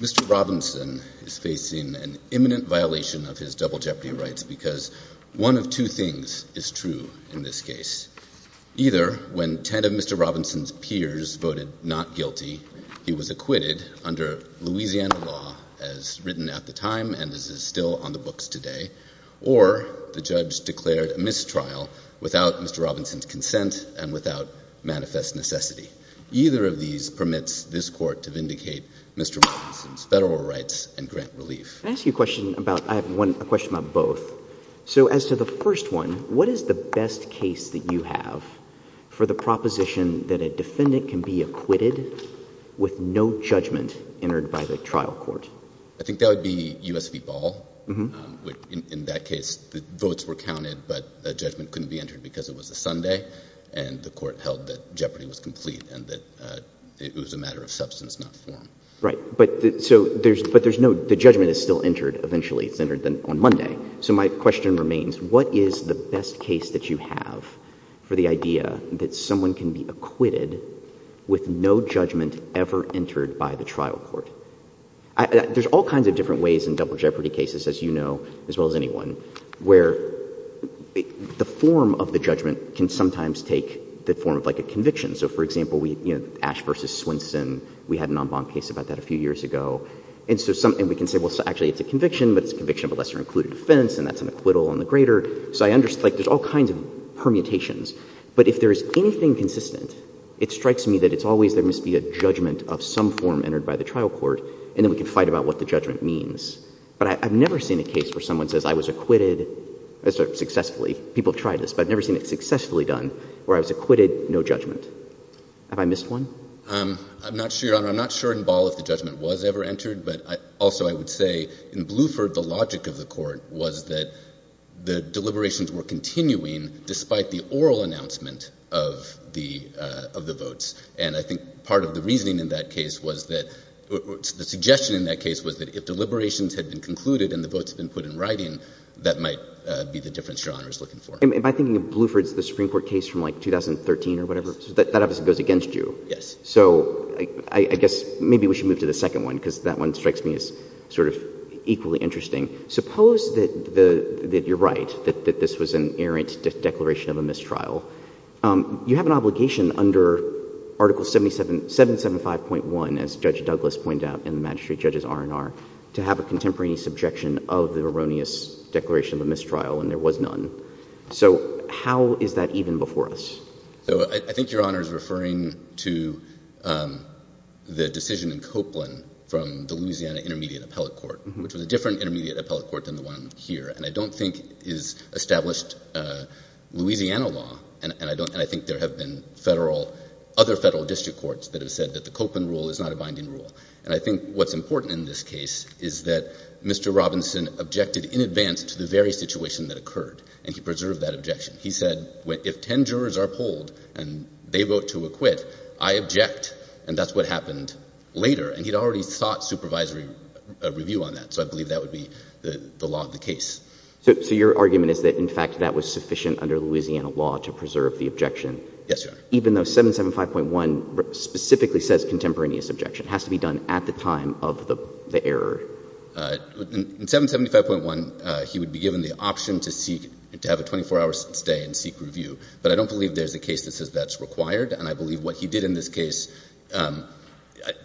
Mr. Robinson is facing an imminent violation of his double jeopardy rights because one of two things is true in this case. Either when ten of Mr. Robinson's peers voted not guilty, he was acquitted under Louisiana law as written at the time and as is still on the books today, or the judge declared a mistrial without Mr. Robinson's consent and without manifest necessity. Either of these permits this Court to vindicate Mr. Robinson's federal rights and grant relief. Can I ask you a question about, I have one, a question about both. So as to the first one, what is the best case that you have for the proposition that a defendant can be acquitted with no judgment entered by the trial court? I think that would be U.S. v. Ball. In that case, the votes were counted but the judgment couldn't be entered because it was a Sunday and the court held that jeopardy was complete and that it was a matter of substance not form. Right. But there's no, the judgment is still entered eventually, it's entered on Monday. So my question remains, what is the best case that you have for the idea that someone can be acquitted with no judgment ever entered by the trial court? There's all kinds of different ways in double jeopardy cases, as you know, as well as anyone, where the form of the judgment can sometimes take the form of like a conviction. So for example, we, you know, Ash v. Swinson, we had an en banc case about that a few years ago. And so some, and we can say, well, actually it's a conviction, but it's a conviction of lesser-included offense and that's an acquittal on the greater. So I understand, like there's all kinds of permutations. But if there is anything consistent, it strikes me that it's always there must be a judgment of some form entered by the trial court and then we can fight about what the judgment means. But I've never seen a case where someone says I was acquitted successfully, people have tried this, but I've never seen it successfully done where I was acquitted, no judgment. Have I missed one? I'm not sure, Your Honor, I'm not sure in Ball if the judgment was ever entered, but I also, I would say in Bluford, the logic of the court was that the deliberations were continuing despite the oral announcement of the, of the votes. And I think part of the reasoning in that case was that the suggestion in that case was that if deliberations had been concluded and the votes had been put in writing, that might be the difference Your Honor is looking for. And by thinking of Bluford's, the Supreme Court case from like 2013 or whatever, that obviously goes against you. Yes. So I, I guess maybe we should move to the second one because that one strikes me as sort of equally interesting. Suppose that the, that you're right, that, that this was an errant declaration of a mistrial. You have an obligation under Article 77, 775.1 as Judge Douglas pointed out in the Magistrate Judge's R&R to have a contemporaneous objection of the erroneous declaration of a mistrial and there was none. So how is that even before us? So I think Your Honor is referring to the decision in Copeland from the Louisiana Intermediate Appellate Court, which was a different Intermediate Appellate Court than the one here. And I don't think is established Louisiana law and, and I don't, and I think there have been federal, other federal district courts that have said that the Copeland rule is not a binding rule. And I think what's important in this case is that Mr. Robinson objected in advance to the very situation that occurred and he preserved that objection. He said, if 10 jurors are polled and they vote to acquit, I object and that's what happened later. And he'd already sought supervisory review on that. So I believe that would be the law of the case. So your argument is that in fact that was sufficient under Louisiana law to preserve the objection. Yes, Your Honor. Even though 775.1 specifically says contemporaneous objection has to be done at the time of the error. In 775.1, he would be given the option to seek, to have a 24-hour stay and seek review. But I don't believe there's a case that says that's required and I believe what he did in this case, I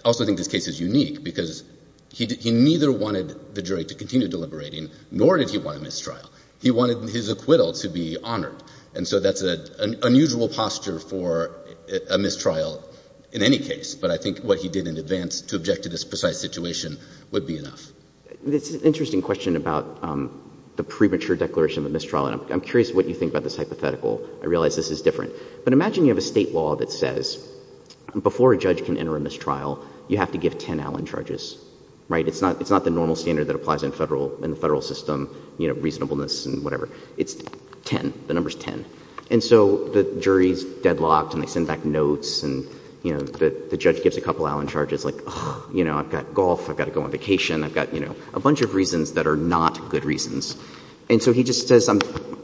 also think this case is unique because he, he neither wanted the jury to continue deliberating nor did he want a mistrial. He wanted his acquittal to be honored. And so that's an unusual posture for a mistrial in any case. But I think what he did in advance to object to this precise situation would be enough. It's an interesting question about the premature declaration of mistrial. I'm curious what you think about this hypothetical. I realize this is different. But imagine you have a state law that says before a judge can enter a mistrial, you have to give 10 Allen charges, right? It's not, it's not the normal standard that applies in federal, in the federal system, you know, reasonableness and whatever. It's 10. The number's 10. And so the jury's deadlocked and they send back notes and, you know, the judge gives a couple Allen charges like, oh, you know, I've got golf, I've got to go on vacation, I've got, you know, a bunch of reasons that are not good reasons. And so he just says,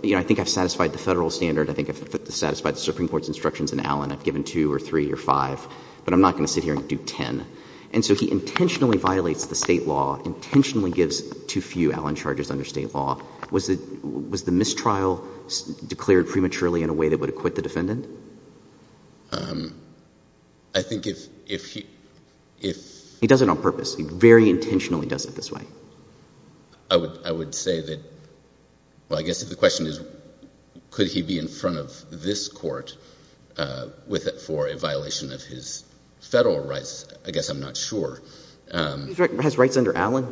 you know, I think I've satisfied the federal standard. I think I've satisfied the Supreme Court's instructions in Allen. I've given two or three or five, but I'm not going to sit here and do 10. And so he intentionally violates the state law, intentionally gives too few Allen charges under state law. Was it, was the mistrial declared prematurely in a way that would acquit the defendant? Um, I think if, if he, if he does it on purpose, he very intentionally does it this way. I would, I would say that, well, I guess if the question is, could he be in front of this court with, for a violation of his federal rights, I guess I'm not sure. He has rights under Allen.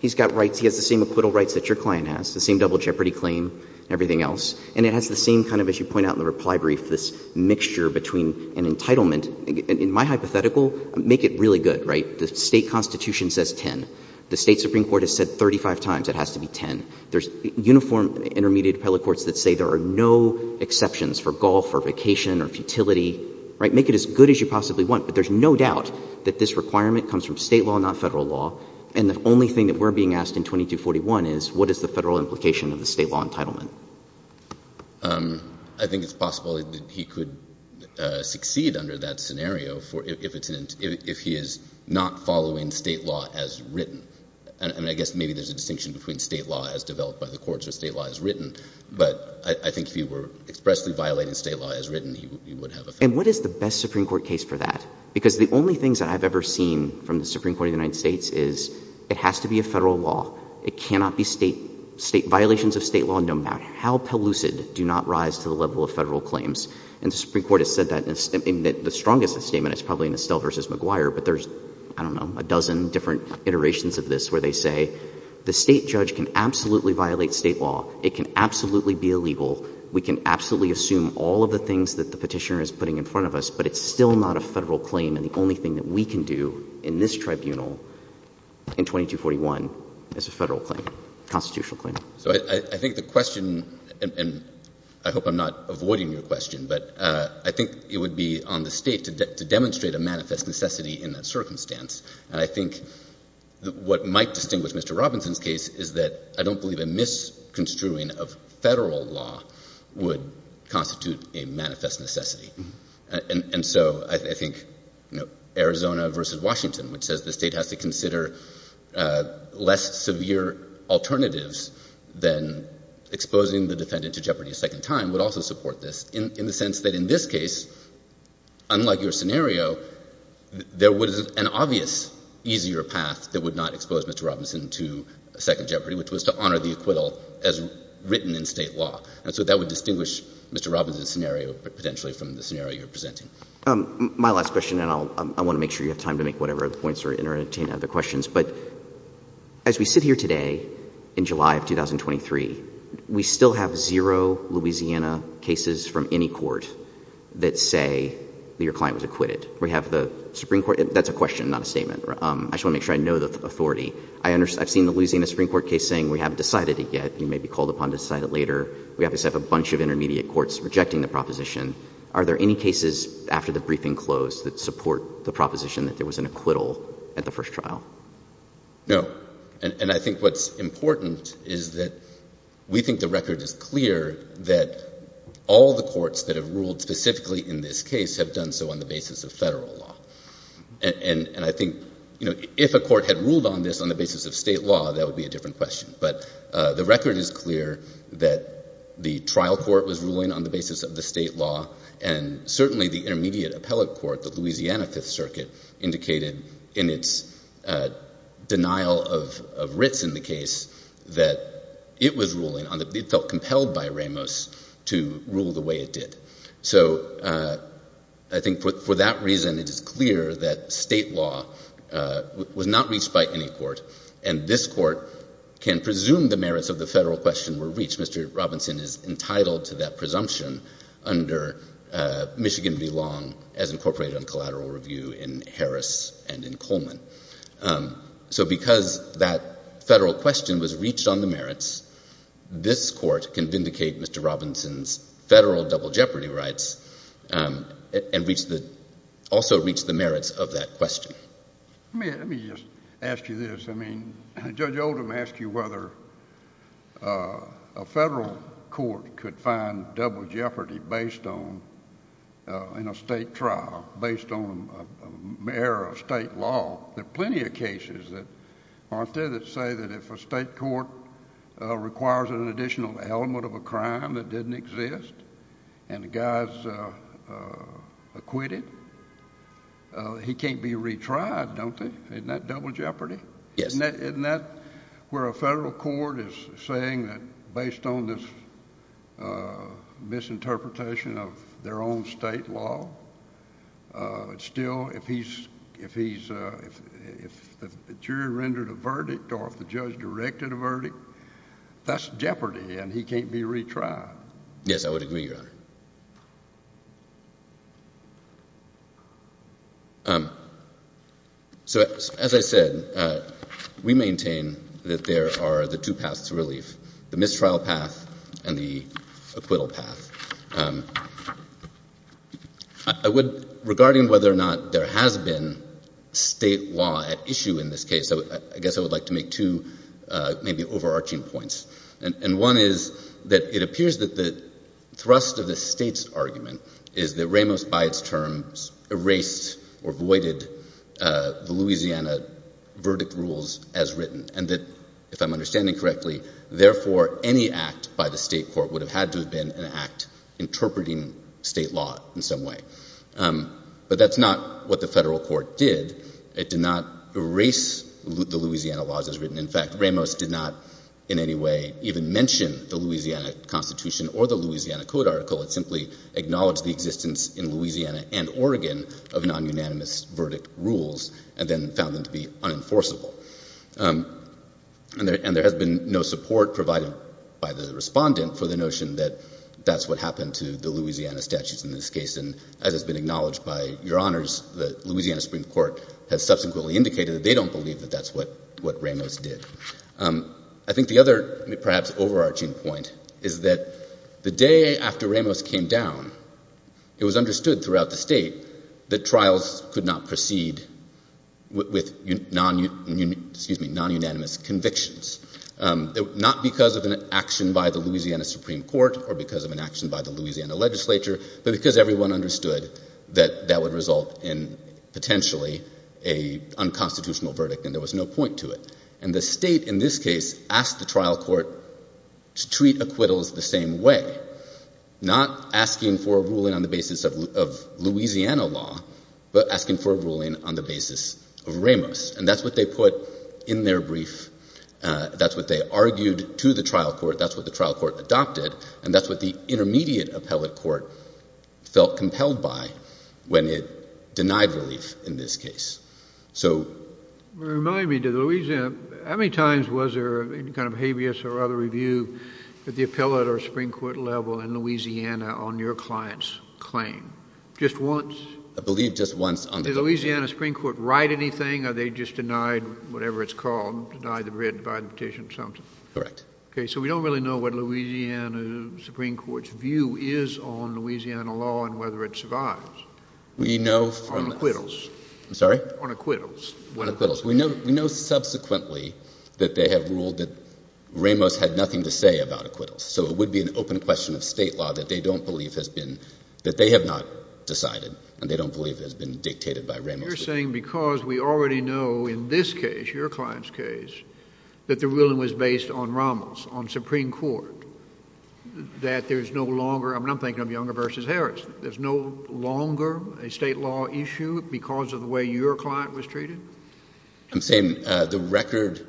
He's got rights. He has the same acquittal rights that your client has, the same double jeopardy claim, everything else. And it has the same kind of, as you point out in the reply brief, this mixture between an entitlement, in my hypothetical, make it really good, right? The state constitution says 10. The state Supreme Court has said 35 times it has to be 10. There's uniform intermediate appellate courts that say there are no exceptions for golf or vacation or futility, right? Make it as good as you possibly want. But there's no doubt that this requirement comes from state law, not federal law. And the only thing that we're being asked in 2241 is, what is the federal implication of the state law entitlement? I think it's possible that he could succeed under that scenario if he is not following state law as written. And I guess maybe there's a distinction between state law as developed by the courts or state law as written. But I think if he were expressly violating state law as written, he would have effect. And what is the best Supreme Court case for that? Because the only things that I've ever seen from the Supreme Court of the United States is, it has to be a federal law. It cannot be state violations of state law, no matter how pellucid, do not rise to the level of federal claims. And the Supreme Court has said that in the strongest statement, it's probably in Estelle versus McGuire, but there's, I don't know, a dozen different iterations of this where they say, the state judge can absolutely violate state law. It can absolutely be illegal. We can absolutely assume all of the things that the petitioner is putting in front of us, but it's still not a federal claim. And the only thing that we can do in this tribunal in 2241 is a federal claim, constitutional claim. So I think the question, and I hope I'm not avoiding your question, but I think it would be on the state to demonstrate a manifest necessity in that circumstance. And I think what might distinguish Mr. Robinson's case is that I don't believe a misconstruing of federal law would constitute a manifest necessity. And so I think, you know, Arizona versus Washington, which says the state has to consider less severe alternatives than exposing the defendant to jeopardy a second time, would also support this in the sense that in this case, unlike your scenario, there was an obvious easier path that would not expose Mr. Robinson to second jeopardy, which was to honor the acquittal as written in state law. And so that would distinguish Mr. Robinson's scenario potentially from the scenario you're presenting. My last question, and I want to make sure you have time to make whatever other points or entertain other questions, but as we sit here today in July of 2023, we still have zero Louisiana cases from any court that say that your client was acquitted. We have the Supreme Court, that's a question, not a statement. I just want to make sure I know the authority. I've seen the Louisiana Supreme Court case saying, we haven't decided it yet, you may be called upon to decide it later. We obviously have a bunch of intermediate courts rejecting the proposition. Are there any cases after the briefing closed that support the proposition that there was an acquittal at the first trial? No. And I think what's important is that we think the record is clear that all the courts that have ruled specifically in this case have done so on the basis of federal law. And I think, you know, if a court had ruled on this on the basis of state law, that would be a different question. But the record is clear that the trial court was ruling on the basis of the state law and certainly the intermediate appellate court, the Louisiana Fifth Circuit, indicated in its denial of writs in the case that it was ruling on the, it felt compelled by Ramos to rule the way it did. So I think for that reason, it is clear that state law was not reached by any court and this court can presume the merits of the federal question were reached. Mr. Robinson is entitled to that presumption under Michigan v. Long as incorporated on collateral review in Harris and in Coleman. So because that federal question was reached on the merits, this court can vindicate Mr. Robinson's federal double jeopardy rights and reach the, also reach the merits of that question. Let me just ask you this, I mean, Judge Oldham asked you whether a federal court could find double jeopardy based on, in a state trial, based on error of state law. There are plenty of cases that aren't there that say that if a state court requires an additional element of a crime that didn't exist and the guy's acquitted, he can't be retried, don't they? Isn't that double jeopardy? Yes. Isn't that where a federal court is saying that based on this misinterpretation of their own state law, still if he's, if he's, if the jury rendered a verdict or if the judge directed a verdict, that's jeopardy and he can't be retried. Yes, I would agree, Your Honor. So, as I said, we maintain that there are the two paths to relief, the mistrial path and the acquittal path. I would, regarding whether or not there has been state law at issue in this case, I guess I would like to make two maybe overarching points. And one is that it appears that the thrust of the state's argument is that Ramos, by its terms, erased or voided the Louisiana verdict rules as written. And that, if I'm understanding correctly, therefore any act by the state court would have had to have been an act interpreting state law in some way. But that's not what the federal court did. It did not erase the Louisiana laws as written. In fact, Ramos did not in any way even mention the Louisiana Constitution or the Louisiana Code article. It simply acknowledged the existence in Louisiana and Oregon of non-unanimous verdict rules and then found them to be unenforceable. And there has been no support provided by the respondent for the notion that that's what happened to the Louisiana statutes in this case. And as has been acknowledged by Your Honors, the Louisiana Supreme Court has subsequently indicated that they don't believe that that's what Ramos did. I think the other perhaps overarching point is that the day after Ramos came down, it was understood throughout the state that trials could not proceed with non-unanimous convictions. Not because of an action by the Louisiana Supreme Court or because of an action by the Louisiana legislature, but because everyone understood that that would result in potentially an unconstitutional verdict and there was no point to it. And the state in this case asked the trial court to treat acquittals the same way. Not asking for a ruling on the basis of Louisiana law, but asking for a ruling on the basis of Ramos. And that's what they put in their brief. That's what they argued to the trial court. That's what the trial court adopted. And that's what the intermediate appellate court felt compelled by when it denied relief in this case. So... Remind me, did Louisiana, how many times was there any kind of habeas or other review at the appellate or Supreme Court level in Louisiana on your client's claim? Just once? I believe just once. Did the Louisiana Supreme Court write anything or they just denied whatever it's called? Denied the written petition or something? Correct. Okay, so we don't really know what Louisiana Supreme Court's view is on Louisiana law and whether it survives. We know from... I'm sorry? On acquittals. We know subsequently that they have ruled that Ramos had nothing to say about acquittals. So it would be an open question of state law that they don't believe has been, that they have not decided and they don't believe has been dictated by Ramos. You're saying because we already know in this case, your client's case, that the ruling was based on Ramos, on Supreme Court, that there's no longer, I'm thinking of Younger versus Harris. There's no longer a state law issue because of the way your client was treated? I'm saying the record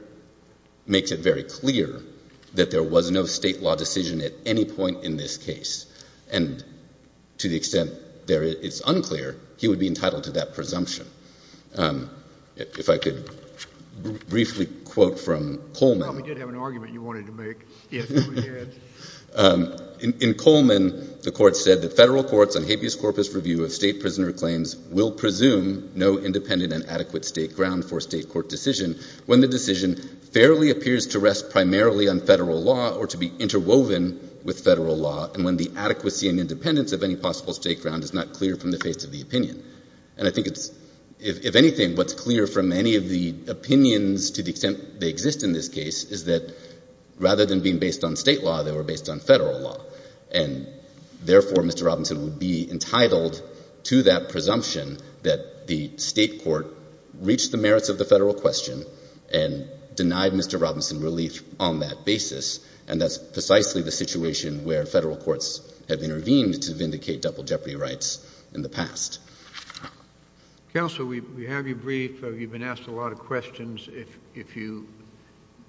makes it very clear that there was no state law decision at any point in this case. And to the extent it's unclear, he would be entitled to that presumption. If I could briefly quote from Coleman. You probably did have an argument you wanted to make. In Coleman, the court said that federal courts on habeas corpus review of state prisoner claims will presume no independent and adequate state ground for a state court decision when the decision fairly appears to rest primarily on federal law or to be interwoven with federal law and when the adequacy and independence of any possible state ground is not clear from the face of the opinion. And I think it's, if anything, what's clear from any of the opinions to the extent they were being based on state law, they were based on federal law. And therefore, Mr. Robinson would be entitled to that presumption that the state court reached the merits of the federal question and denied Mr. Robinson relief on that basis. And that's precisely the situation where federal courts have intervened to vindicate double jeopardy rights in the past. Counsel, we have you briefed. You've been asked a lot of questions. If you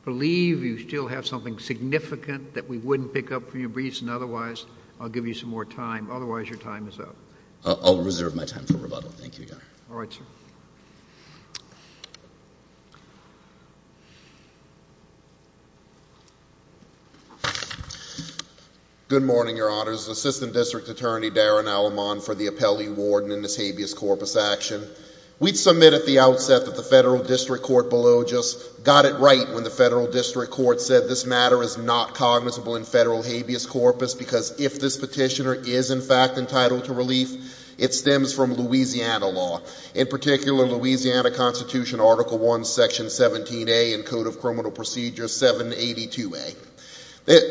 believe you still have something significant that we wouldn't pick up from your briefs and otherwise, I'll give you some more time. Otherwise, your time is up. I'll reserve my time for rebuttal. Thank you, Your Honor. All right, sir. Good morning, Your Honors. Assistant District Attorney Darren Alamon for the appellee warden in this habeas corpus action. We'd submit at the outset that the federal district court below just got it right when the federal district court said this matter is not cognizable in federal habeas corpus because if this petitioner is, in fact, entitled to relief, it stems from Louisiana law. In particular, Louisiana Constitution Article I, Section 17A and Code of Criminal Procedures 782A.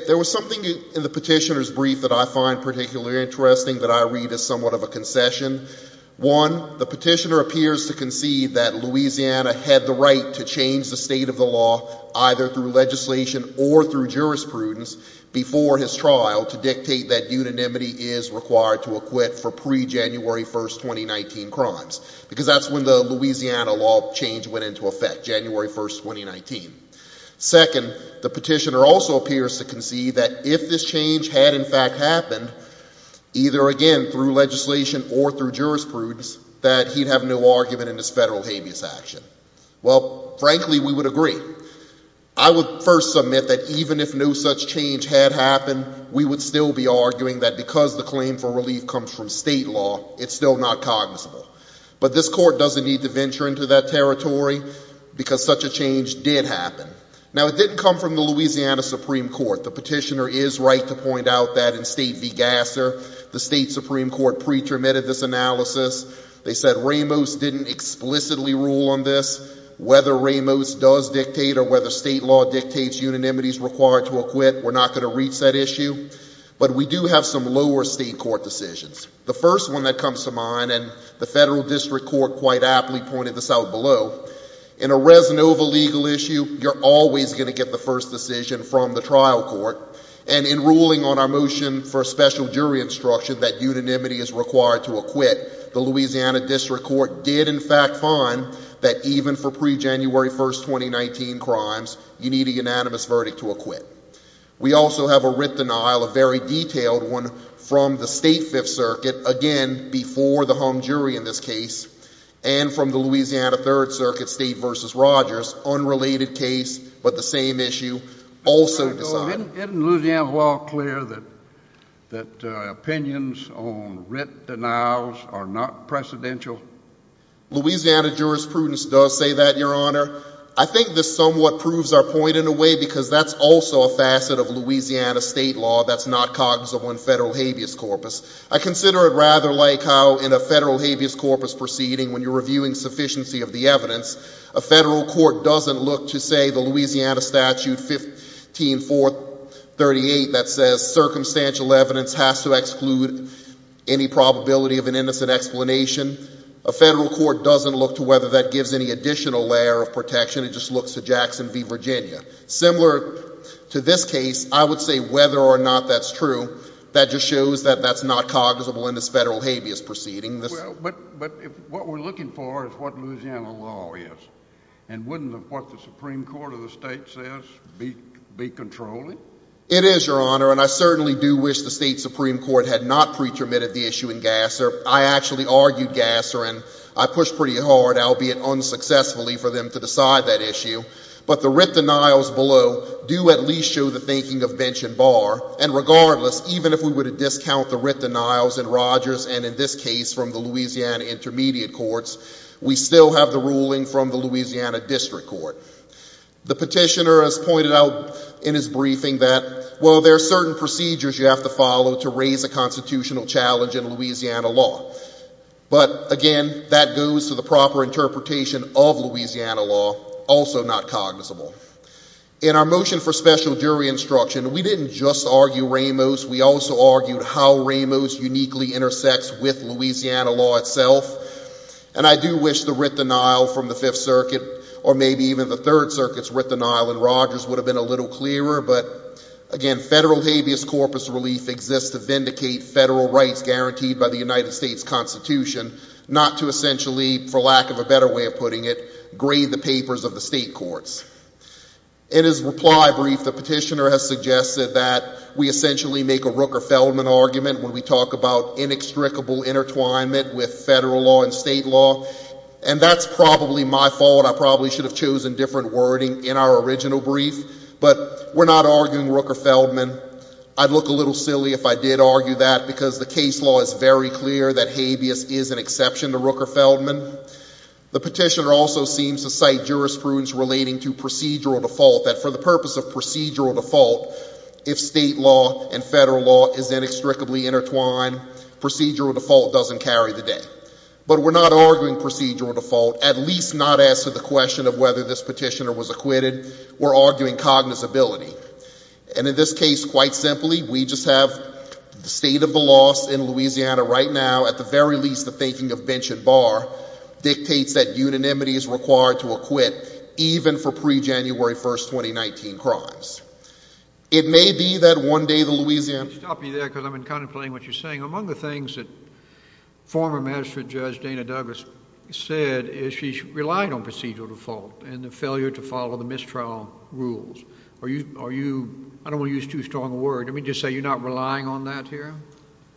There was something in the petitioner's brief that I find particularly interesting that I read as somewhat of a concession. One, the petitioner appears to concede that Louisiana had the right to change the state of the law either through legislation or through jurisprudence before his trial to dictate that unanimity is required to acquit for pre-January 1st, 2019 crimes because that's when the Louisiana law change went into effect, January 1st, 2019. Second, the petitioner also appears to concede that if this change had, in fact, happened, either again through legislation or through jurisprudence, that he'd have no argument in this federal habeas action. Well, frankly, we would agree. I would first submit that even if no such change had happened, we would still be arguing that because the claim for relief comes from state law, it's still not cognizable. But this court doesn't need to venture into that territory because such a change did happen. Now, it didn't come from the Louisiana Supreme Court. The petitioner is right to point out that in State v. Gasser, the state Supreme Court pre-termitted this analysis. They said Ramos didn't explicitly rule on this. Whether Ramos does dictate or whether state law dictates unanimities required to acquit, we're not going to reach that issue. But we do have some lower state court decisions. The first one that comes to mind, and the federal district court quite aptly pointed this out below, in a Resinova legal issue, you're always going to get the first decision from the trial court. And in ruling on our motion for a special jury instruction that unanimity is required to acquit, the Louisiana district court did, in fact, find that even for pre-January 1, 2019 crimes, you need a unanimous verdict to acquit. We also have a writ denial, a very detailed one, from the State Fifth Circuit, again, before the hung jury in this case, and from the Louisiana Third Circuit, State v. Rogers, unrelated case, but the same issue, also decided. Isn't Louisiana law clear that opinions on writ denials are not precedential? Louisiana jurisprudence does say that, Your Honor. I think this somewhat proves our point, in a way, because that's also a facet of Louisiana state law that's not cognizant on federal habeas corpus. I consider it rather like how, in a federal habeas corpus proceeding, when you're reviewing sufficiency of the evidence, a federal court doesn't look to, say, the Louisiana statute 15-438 that says circumstantial evidence has to exclude any probability of an innocent explanation. A federal court doesn't look to whether that gives any additional layer of protection. It just looks to Jackson v. Virginia. Similar to this case, I would say whether or not that's true, that just shows that that's not cognizable in this federal habeas proceeding. But what we're looking for is what Louisiana law is. And wouldn't what the Supreme Court of the state says be controlling? It is, Your Honor, and I certainly do wish the state Supreme Court had not pretermitted the issue in Gasser. I actually argued Gasser, and I pushed pretty hard, albeit unsuccessfully, for them to decide that issue. But the writ denials below do at least show the thinking of Bench and Barr. And regardless, even if we were to discount the writ denials in Rogers and in this case from the Louisiana Intermediate Courts, we still have the ruling from the Louisiana District Court. The petitioner has pointed out in his briefing that, well, there are certain procedures you have to follow to raise a constitutional challenge in Louisiana law. But again, that goes to the proper interpretation of Louisiana law, also not cognizable. In our motion for special jury instruction, we didn't just argue Ramos. We also argued how Ramos uniquely intersects with Louisiana law itself. And I do wish the writ denial from the Fifth Circuit or maybe even the Third Circuit's writ denial in Rogers would have been a little clearer. But again, federal habeas corpus relief exists to vindicate federal rights guaranteed by the United States Constitution, not to essentially, for lack of a better way of putting it, grade the papers of the state courts. In his reply brief, the petitioner has suggested that we essentially make a Rooker-Feldman argument when we talk about inextricable intertwinement with federal law and state law. And that's probably my fault. I probably should have chosen different wording in our original brief. But we're not arguing Rooker-Feldman. I'd look a little silly if I did argue that, because the case law is very clear that habeas is an exception to Rooker-Feldman. The petitioner also seems to cite jurisprudence relating to procedural default, that for the purpose of procedural default, if state law and federal law is inextricably intertwined, procedural default doesn't carry the day. But we're not arguing procedural default, at least not as to the question of whether this petitioner was acquitted. We're arguing cognizability. And in this case, quite simply, we just have the state of the loss in Louisiana right now, at the very least, the faking of bench and bar dictates that unanimity is required to acquit even for pre-January 1st, 2019 crimes. It may be that one day the Louisiana— Stop me there, because I'm contemplating what you're saying. Among the things that former magistrate judge Dana Douglas said is she's relying on procedural default and the failure to follow the mistrial rules. Are you—I don't want to use too strong a word—let me just say you're not relying on that here?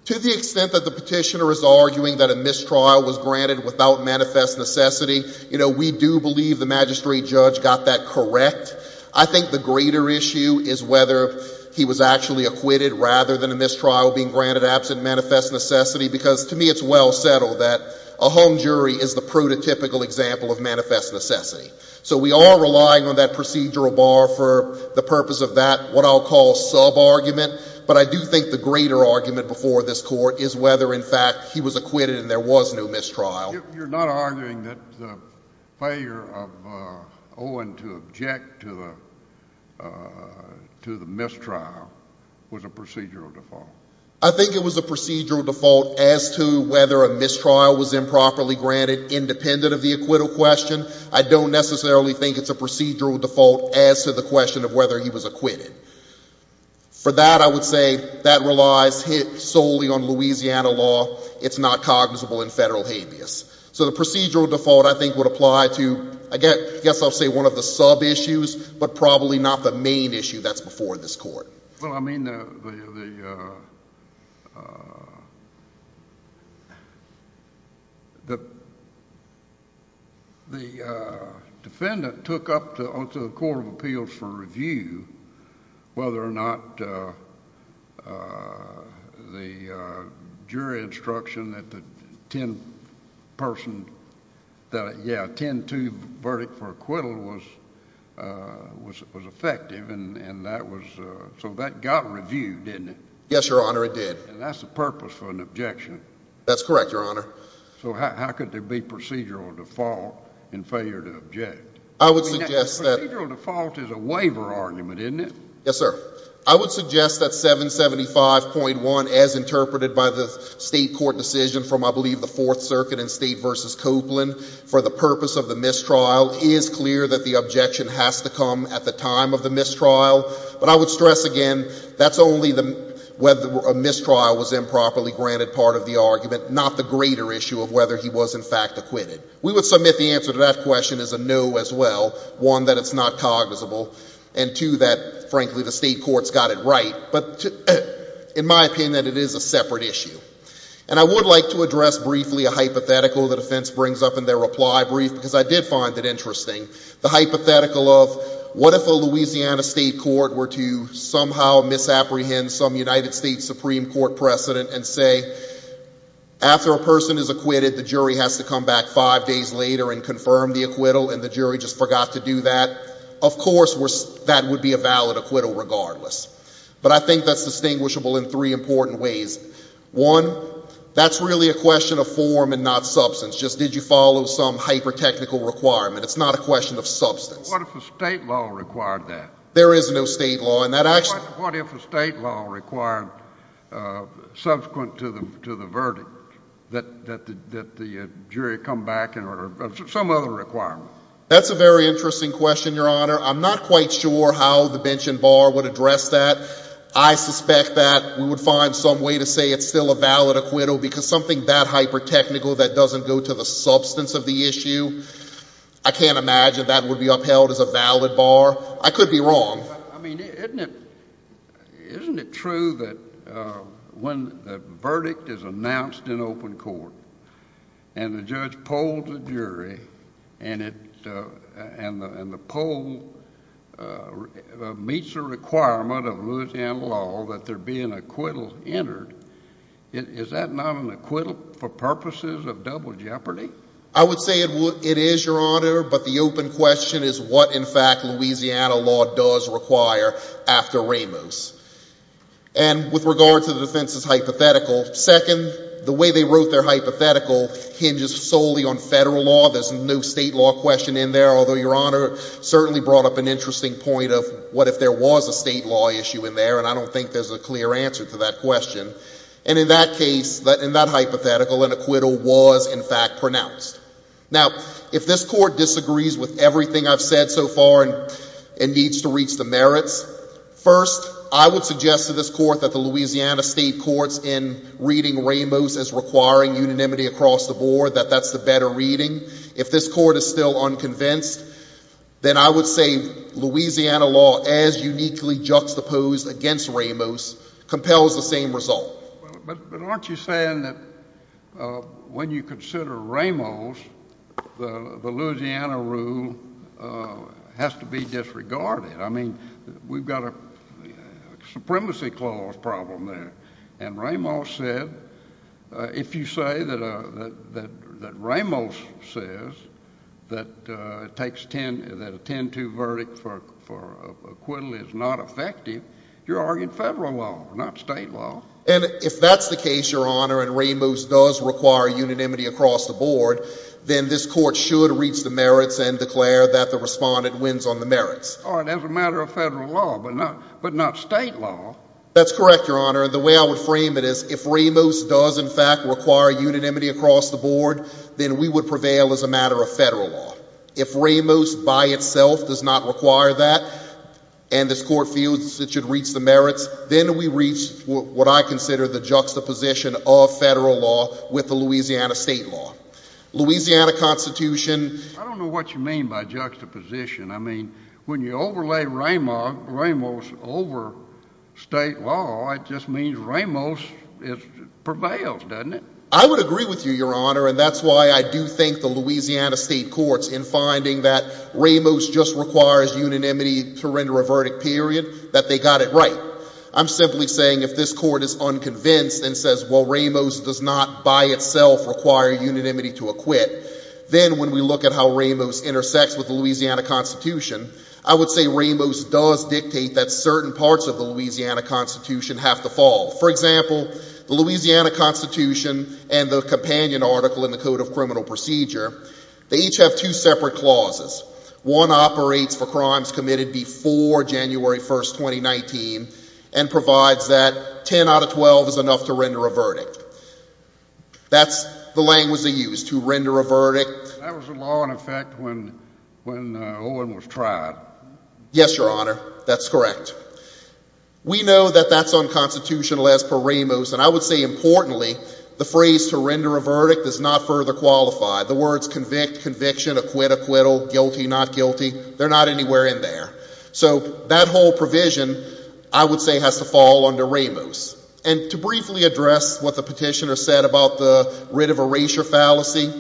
To the extent that the petitioner is arguing that a mistrial was granted without manifest necessity, you know, we do believe the magistrate judge got that correct. I think the greater issue is whether he was actually acquitted rather than a mistrial being granted absent manifest necessity, because to me it's well settled that a home jury is the prototypical example of manifest necessity. So we are relying on that procedural bar for the purpose of that, what I'll call sub-argument. But I do think the greater argument before this court is whether, in fact, he was acquitted and there was no mistrial. You're not arguing that the failure of Owen to object to the mistrial was a procedural default? I think it was a procedural default as to whether a mistrial was improperly granted independent of the acquittal question. I don't necessarily think it's a procedural default as to the question of whether he was acquitted. For that, I would say that relies solely on Louisiana law. It's not cognizable in federal habeas. So the procedural default I think would apply to, I guess I'll say one of the sub-issues, but probably not the main issue that's before this court. Well, I mean, the defendant took up to the Court of Appeals for review whether or not the jury instruction that the ten-person... yeah, ten-two verdict for acquittal was effective, and that was... so that got reviewed, didn't it? Yes, Your Honor, it did. And that's the purpose for an objection? That's correct, Your Honor. So how could there be procedural default in failure to object? I would suggest that... I mean, that procedural default is a waiver argument, isn't it? Yes, sir. I would suggest that 775.1, as interpreted by the state court decision from, I believe, the Fourth Circuit in State v. Copeland, for the purpose of the mistrial, is clear that the objection has to come at the time of the mistrial, but I would stress again that's only whether a mistrial was improperly granted part of the argument, not the greater issue of whether he was, in fact, acquitted. We would submit the answer to that question as a no as well, one, that it's not cognizable, and two, that, frankly, the state court's got it right, but in my opinion, that it is a separate issue. And I would like to address briefly a hypothetical the defense brings up in their reply brief because I did find it interesting, the hypothetical of what if a Louisiana state court were to somehow misapprehend some United States Supreme Court precedent and say, after a person is acquitted, the jury has to come back five days later and confirm the acquittal and the jury just forgot to do that? Of course, that would be a valid acquittal regardless. But I think that's distinguishable in three important ways. One, that's really a question of form and not substance. Just did you follow some hyper-technical requirement? It's not a question of substance. What if a state law required that? There is no state law, and that actually... What if a state law required, subsequent to the verdict, that the jury come back in order of some other requirement? That's a very interesting question, Your Honor. I'm not quite sure how the bench and bar would address that. I suspect that we would find some way to say it's still a valid acquittal because something that hyper-technical that doesn't go to the substance of the issue. I can't imagine that would be upheld as a valid bar. I could be wrong. I mean, isn't it true that when the verdict is announced in open court and the judge polled the jury and the poll meets a requirement of Louisiana law that there be an acquittal entered, is that not an acquittal for purposes of double jeopardy? I would say it is, Your Honor, but the open question is what, in fact, Louisiana law does require after Ramos. And with regard to the defense's hypothetical, second, the way they wrote their hypothetical hinges solely on federal law. There's no state law question in there, although Your Honor certainly brought up an interesting point of what if there was a state law issue in there, and I don't think there's a clear answer to that question. And in that case, in that hypothetical, an acquittal was, in fact, pronounced. Now if this Court disagrees with everything I've said so far and needs to reach the merits, first, I would suggest to this Court that the Louisiana state courts in reading Ramos as requiring unanimity across the board, that that's the better reading. If this Court is still unconvinced, then I would say Louisiana law, as uniquely juxtaposed against Ramos, compels the same result. But aren't you saying that when you consider Ramos, the Louisiana rule has to be disregarded? I mean, we've got a supremacy clause problem there, and Ramos said, if you say that Ramos says that a 10-2 verdict for acquittal is not effective, you're arguing federal law, not state law. And if that's the case, Your Honor, and Ramos does require unanimity across the board, then this Court should reach the merits and declare that the respondent wins on the merits. All right, as a matter of federal law, but not state law. That's correct, Your Honor. The way I would frame it is if Ramos does, in fact, require unanimity across the board, then we would prevail as a matter of federal law. If Ramos, by itself, does not require that, and this Court feels it should reach the merits, then we reach what I consider the juxtaposition of federal law with the Louisiana state law. Louisiana Constitution— I don't know what you mean by juxtaposition. I mean, when you overlay Ramos over state law, it just means Ramos prevails, doesn't it? I would agree with you, Your Honor, and that's why I do think the Louisiana state courts, in finding that Ramos just requires unanimity to render a verdict, period, that they got it right. I'm simply saying if this Court is unconvinced and says, well, Ramos does not, by itself, require unanimity to acquit, then when we look at how Ramos intersects with the Louisiana Constitution, I would say Ramos does dictate that certain parts of the Louisiana Constitution have to fall. For example, the Louisiana Constitution and the companion article in the Code of Criminal Procedure, they each have two separate clauses. One operates for crimes committed before January 1, 2019, and provides that 10 out of 12 is enough to render a verdict. That's the language they use, to render a verdict. That was a law in effect when Owen was tried. Yes, Your Honor, that's correct. We know that that's unconstitutional as per Ramos, and I would say, importantly, the phrase to render a verdict does not further qualify. The words convict, conviction, acquit, acquittal, guilty, not guilty, they're not anywhere in there. So that whole provision, I would say, has to fall under Ramos. And to briefly address what the petitioner said about the writ of erasure fallacy,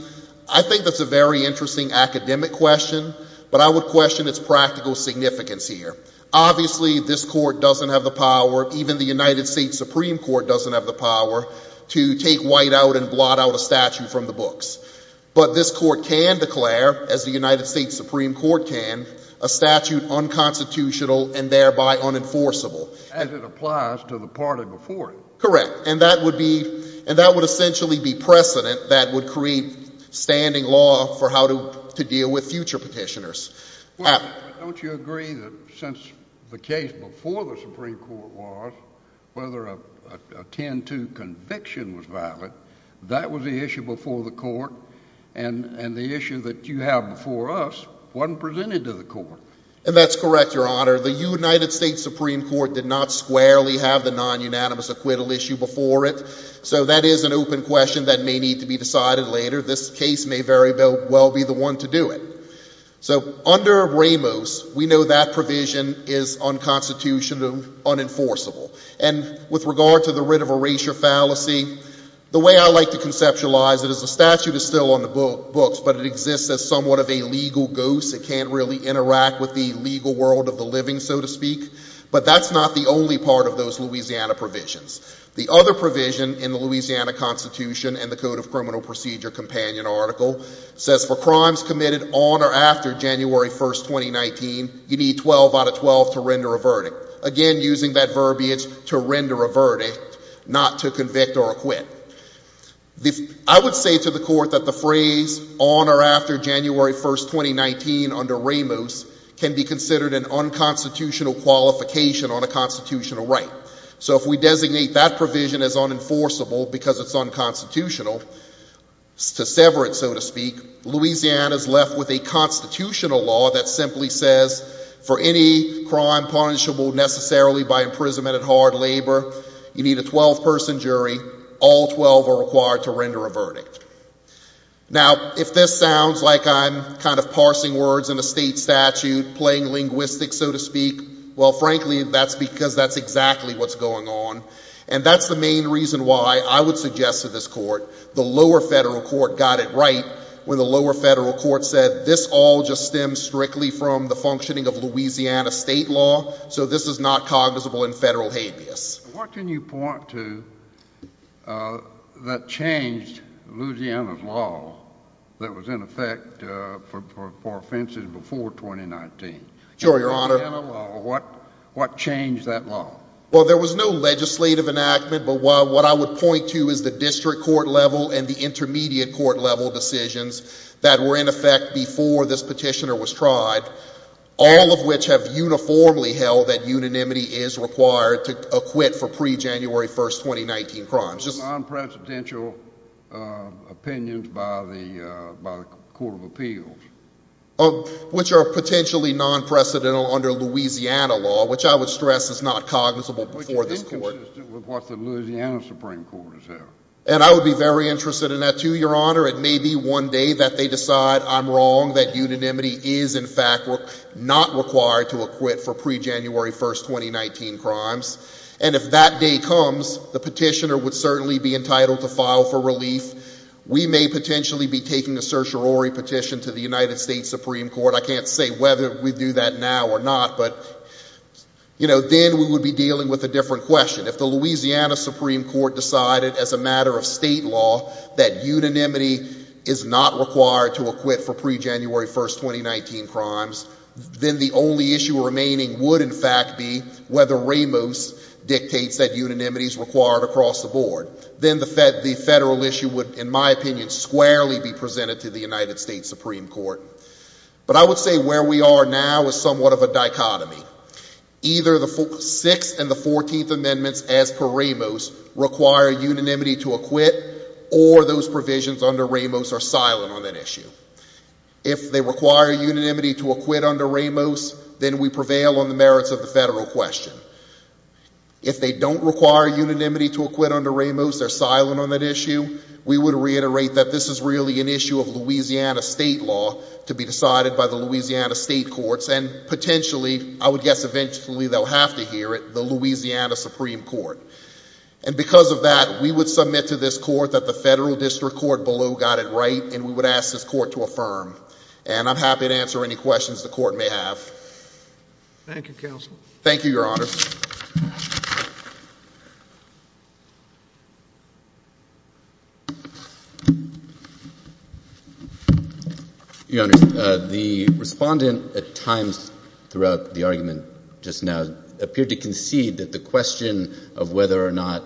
I think that's a very interesting academic question, but I would question its practical significance here. Obviously, this Court doesn't have the power, even the United States Supreme Court doesn't have the power, to take white out and blot out a statute from the books. But this Court can declare, as the United States Supreme Court can, a statute unconstitutional and thereby unenforceable. As it applies to the party before it. Correct. And that would be, and that would essentially be precedent that would create standing law for how to deal with future petitioners. Well, don't you agree that since the case before the Supreme Court was, whether a 10-2 conviction was valid, that was the issue before the Court, and the issue that you have before us wasn't presented to the Court? And that's correct, Your Honor. The United States Supreme Court did not squarely have the non-unanimous acquittal issue before it. So that is an open question that may need to be decided later. This case may very well be the one to do it. So under Ramos, we know that provision is unconstitutional and unenforceable. And with regard to the writ of erasure fallacy, the way I like to conceptualize it is the statute is still on the books, but it exists as somewhat of a legal ghost. It can't really interact with the legal world of the living, so to speak. But that's not the only part of those Louisiana provisions. The other provision in the Louisiana Constitution and the Code of Criminal Procedure Companion article says for crimes committed on or after January 1, 2019, you need 12 out of 12 to render a verdict. Again, using that verbiage, to render a verdict, not to convict or acquit. I would say to the Court that the phrase on or after January 1, 2019, under Ramos, can be considered an unconstitutional qualification on a constitutional right. So if we designate that provision as unenforceable because it's unconstitutional, to sever it, so to speak, Louisiana is left with a constitutional law that simply says for any crime punishable necessarily by imprisonment and hard labor, you need a 12-person jury. All 12 are required to render a verdict. Now if this sounds like I'm kind of parsing words in a state statute, playing linguistics, so to speak, well, frankly, that's because that's exactly what's going on. And that's the main reason why I would suggest to this Court, the lower federal court got it right when the lower federal court said this all just stems strictly from the functioning of Louisiana state law, so this is not cognizable in federal habeas. What can you point to that changed Louisiana's law that was in effect for offenses before 2019? Sure, Your Honor. Louisiana law. What changed that law? Well, there was no legislative enactment, but what I would point to is the district court level and the intermediate court level decisions that were in effect before this petitioner was tried, all of which have uniformly held that unanimity is required to acquit for pre-January 1, 2019 crimes. Non-presidential opinions by the Court of Appeals. Which are potentially non-presidential under Louisiana law, which I would stress is not cognizable before this Court. Which is inconsistent with what the Louisiana Supreme Court has held. And I would be very interested in that, too, Your Honor. It may be one day that they decide I'm wrong, that unanimity is in fact not required to acquit for pre-January 1, 2019 crimes. And if that day comes, the petitioner would certainly be entitled to file for relief. We may potentially be taking a certiorari petition to the United States Supreme Court. I can't say whether we do that now or not, but, you know, then we would be dealing with a different question. If the Louisiana Supreme Court decided as a matter of state law that unanimity is not required to acquit for pre-January 1, 2019 crimes, then the only issue remaining would in fact be whether Ramos dictates that unanimity is required across the board. Then the federal issue would, in my opinion, squarely be presented to the United States Supreme Court. But I would say where we are now is somewhat of a dichotomy. Either the 6th and the 14th Amendments as per Ramos require unanimity to acquit or those provisions under Ramos are silent on that issue. If they require unanimity to acquit under Ramos, then we prevail on the merits of the federal question. If they don't require unanimity to acquit under Ramos, they're silent on that issue. We would reiterate that this is really an issue of Louisiana state law to be decided by the Louisiana state courts and potentially, I would guess eventually they'll have to hear it, the Louisiana Supreme Court. And because of that, we would submit to this court that the federal district court below got it right and we would ask this court to affirm. And I'm happy to answer any questions the court may have. Thank you, Counsel. Thank you, Your Honor. Your Honor, the respondent at times throughout the argument just now appeared to concede that the question of whether or not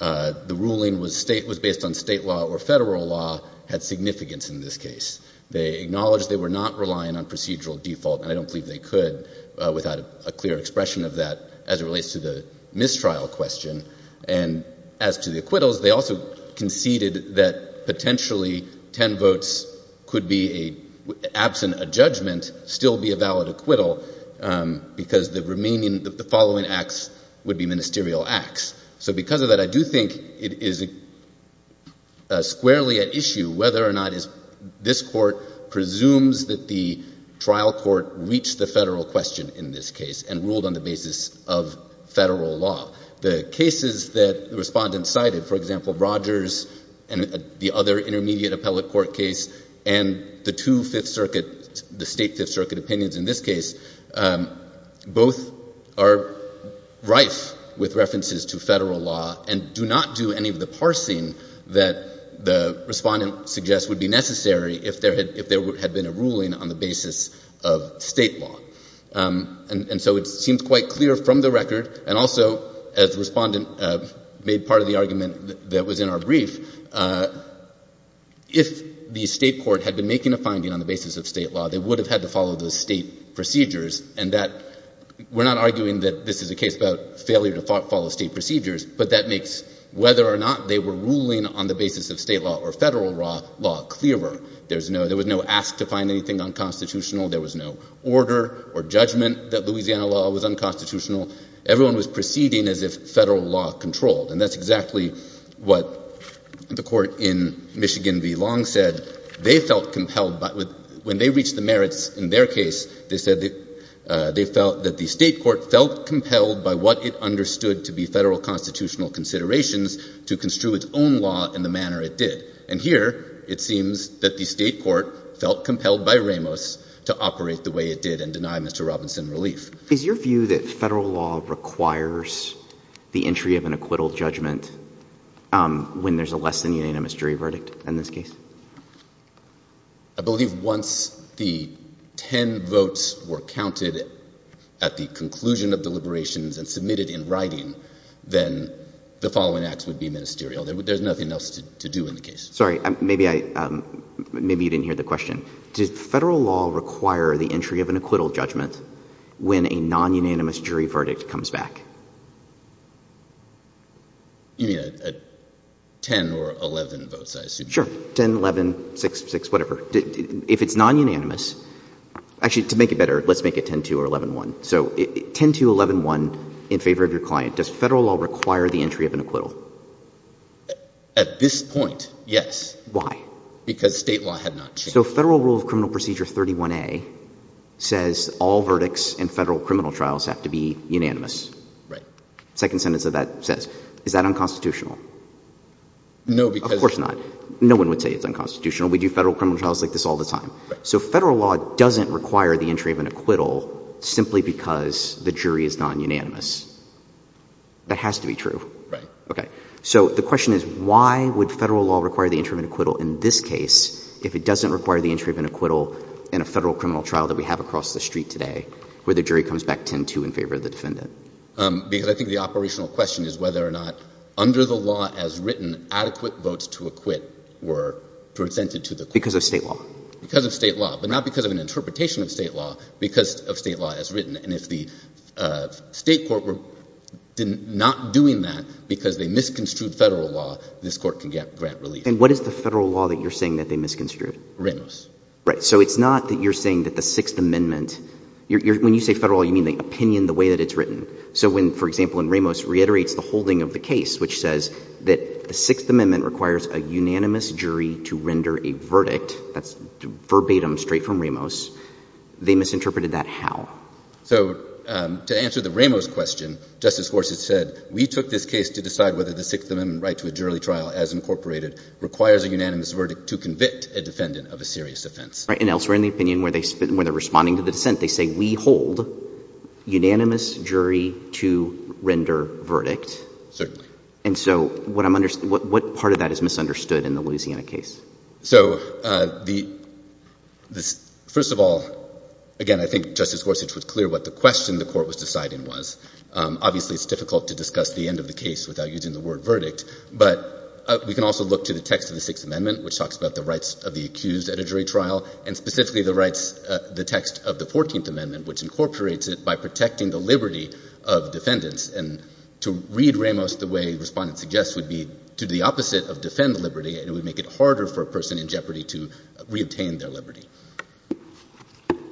the ruling was based on state law or federal law had significance in this case. They acknowledged they were not relying on procedural default and I don't believe they could without a clear expression of that as it relates to the mistrial question. And as to the acquittals, they also conceded that potentially 10 votes could be a, absent a judgment, still be a valid acquittal because the remaining, the following acts would be ministerial acts. So because of that, I do think it is squarely at issue whether or not this court presumes that the trial court reached the federal question in this case and ruled on the basis of federal law. The cases that the respondent cited, for example, Rogers and the other intermediate appellate court case and the two Fifth Circuit, the state Fifth Circuit opinions in this case, both are rife with references to federal law and do not do any of the parsing that the ruling on the basis of state law. And so it seems quite clear from the record and also as the respondent made part of the argument that was in our brief, if the state court had been making a finding on the basis of state law, they would have had to follow the state procedures and that, we're not arguing that this is a case about failure to follow state procedures, but that makes whether or not they were ruling on the basis of state law or federal law clearer. There was no ask to find anything unconstitutional. There was no order or judgment that Louisiana law was unconstitutional. Everyone was proceeding as if federal law controlled. And that's exactly what the court in Michigan v. Long said. They felt compelled. When they reached the merits in their case, they said that they felt that the state court felt compelled by what it understood to be federal constitutional considerations to construe its own law in the manner it did. And here, it seems that the state court felt compelled by Ramos to operate the way it did and deny Mr. Robinson relief. Is your view that federal law requires the entry of an acquittal judgment when there's a less-than-unanimous jury verdict in this case? I believe once the ten votes were counted at the conclusion of deliberations and submitted in writing, then the following acts would be ministerial. There's nothing else to do in the case. Sorry. Maybe you didn't hear the question. Does federal law require the entry of an acquittal judgment when a non-unanimous jury verdict comes back? You mean at 10 or 11 votes, I assume? Sure. 10, 11, 6, 6, whatever. If it's non-unanimous, actually, to make it better, let's make it 10-2 or 11-1. So 10-2, 11-1 in favor of your client. Does federal law require the entry of an acquittal? At this point, yes. Why? Because state law had not changed. So Federal Rule of Criminal Procedure 31A says all verdicts in federal criminal trials have to be unanimous. Right. Second sentence of that says. Is that unconstitutional? No, because Of course not. No one would say it's unconstitutional. We do federal criminal trials like this all the time. So federal law doesn't require the entry of an acquittal simply because the jury is non-unanimous. That has to be true. Right. OK. So the question is, why would federal law require the entry of an acquittal in this case if it doesn't require the entry of an acquittal in a federal criminal trial that we have across the street today where the jury comes back 10-2 in favor of the defendant? Because I think the operational question is whether or not, under the law as written, adequate votes to acquit were presented to the court. Because of state law. Because of state law, but not because of an interpretation of state law. Because of state law as written. And if the state court were not doing that because they misconstrued federal law, this court can get grant relief. And what is the federal law that you're saying that they misconstrued? Ramos. Right. So it's not that you're saying that the Sixth Amendment. When you say federal law, you mean the opinion the way that it's written. So when, for example, in Ramos reiterates the holding of the case, which says that the Sixth Amendment requires a unanimous jury to render a verdict. That's verbatim straight from Ramos. They misinterpreted that how? So to answer the Ramos question, Justice Horst has said, we took this case to decide whether the Sixth Amendment right to a jury trial, as incorporated, requires a unanimous verdict to convict a defendant of a serious offense. And elsewhere in the opinion where they're responding to the dissent, they say we hold unanimous jury to render verdict. Certainly. And so what part of that is misunderstood in the Louisiana case? So first of all, again, I think Justice Gorsuch was clear what the question the court was deciding was. Obviously, it's difficult to discuss the end of the case without using the word verdict. But we can also look to the text of the Sixth Amendment, which talks about the rights of the accused at a jury trial, and specifically the rights, the text of the 14th Amendment, which incorporates it by protecting the liberty of defendants. And to read Ramos the way respondents suggest would be to do the opposite of defend liberty. And it would make it harder for a person in jeopardy to re-obtain their liberty.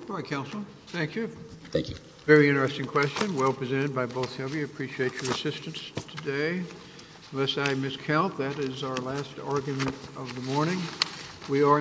All right, counsel. Thank you. Thank you. Very interesting question. Well presented by both of you. Appreciate your assistance today. Unless I miscount, that is our last argument of the morning. We are in recess.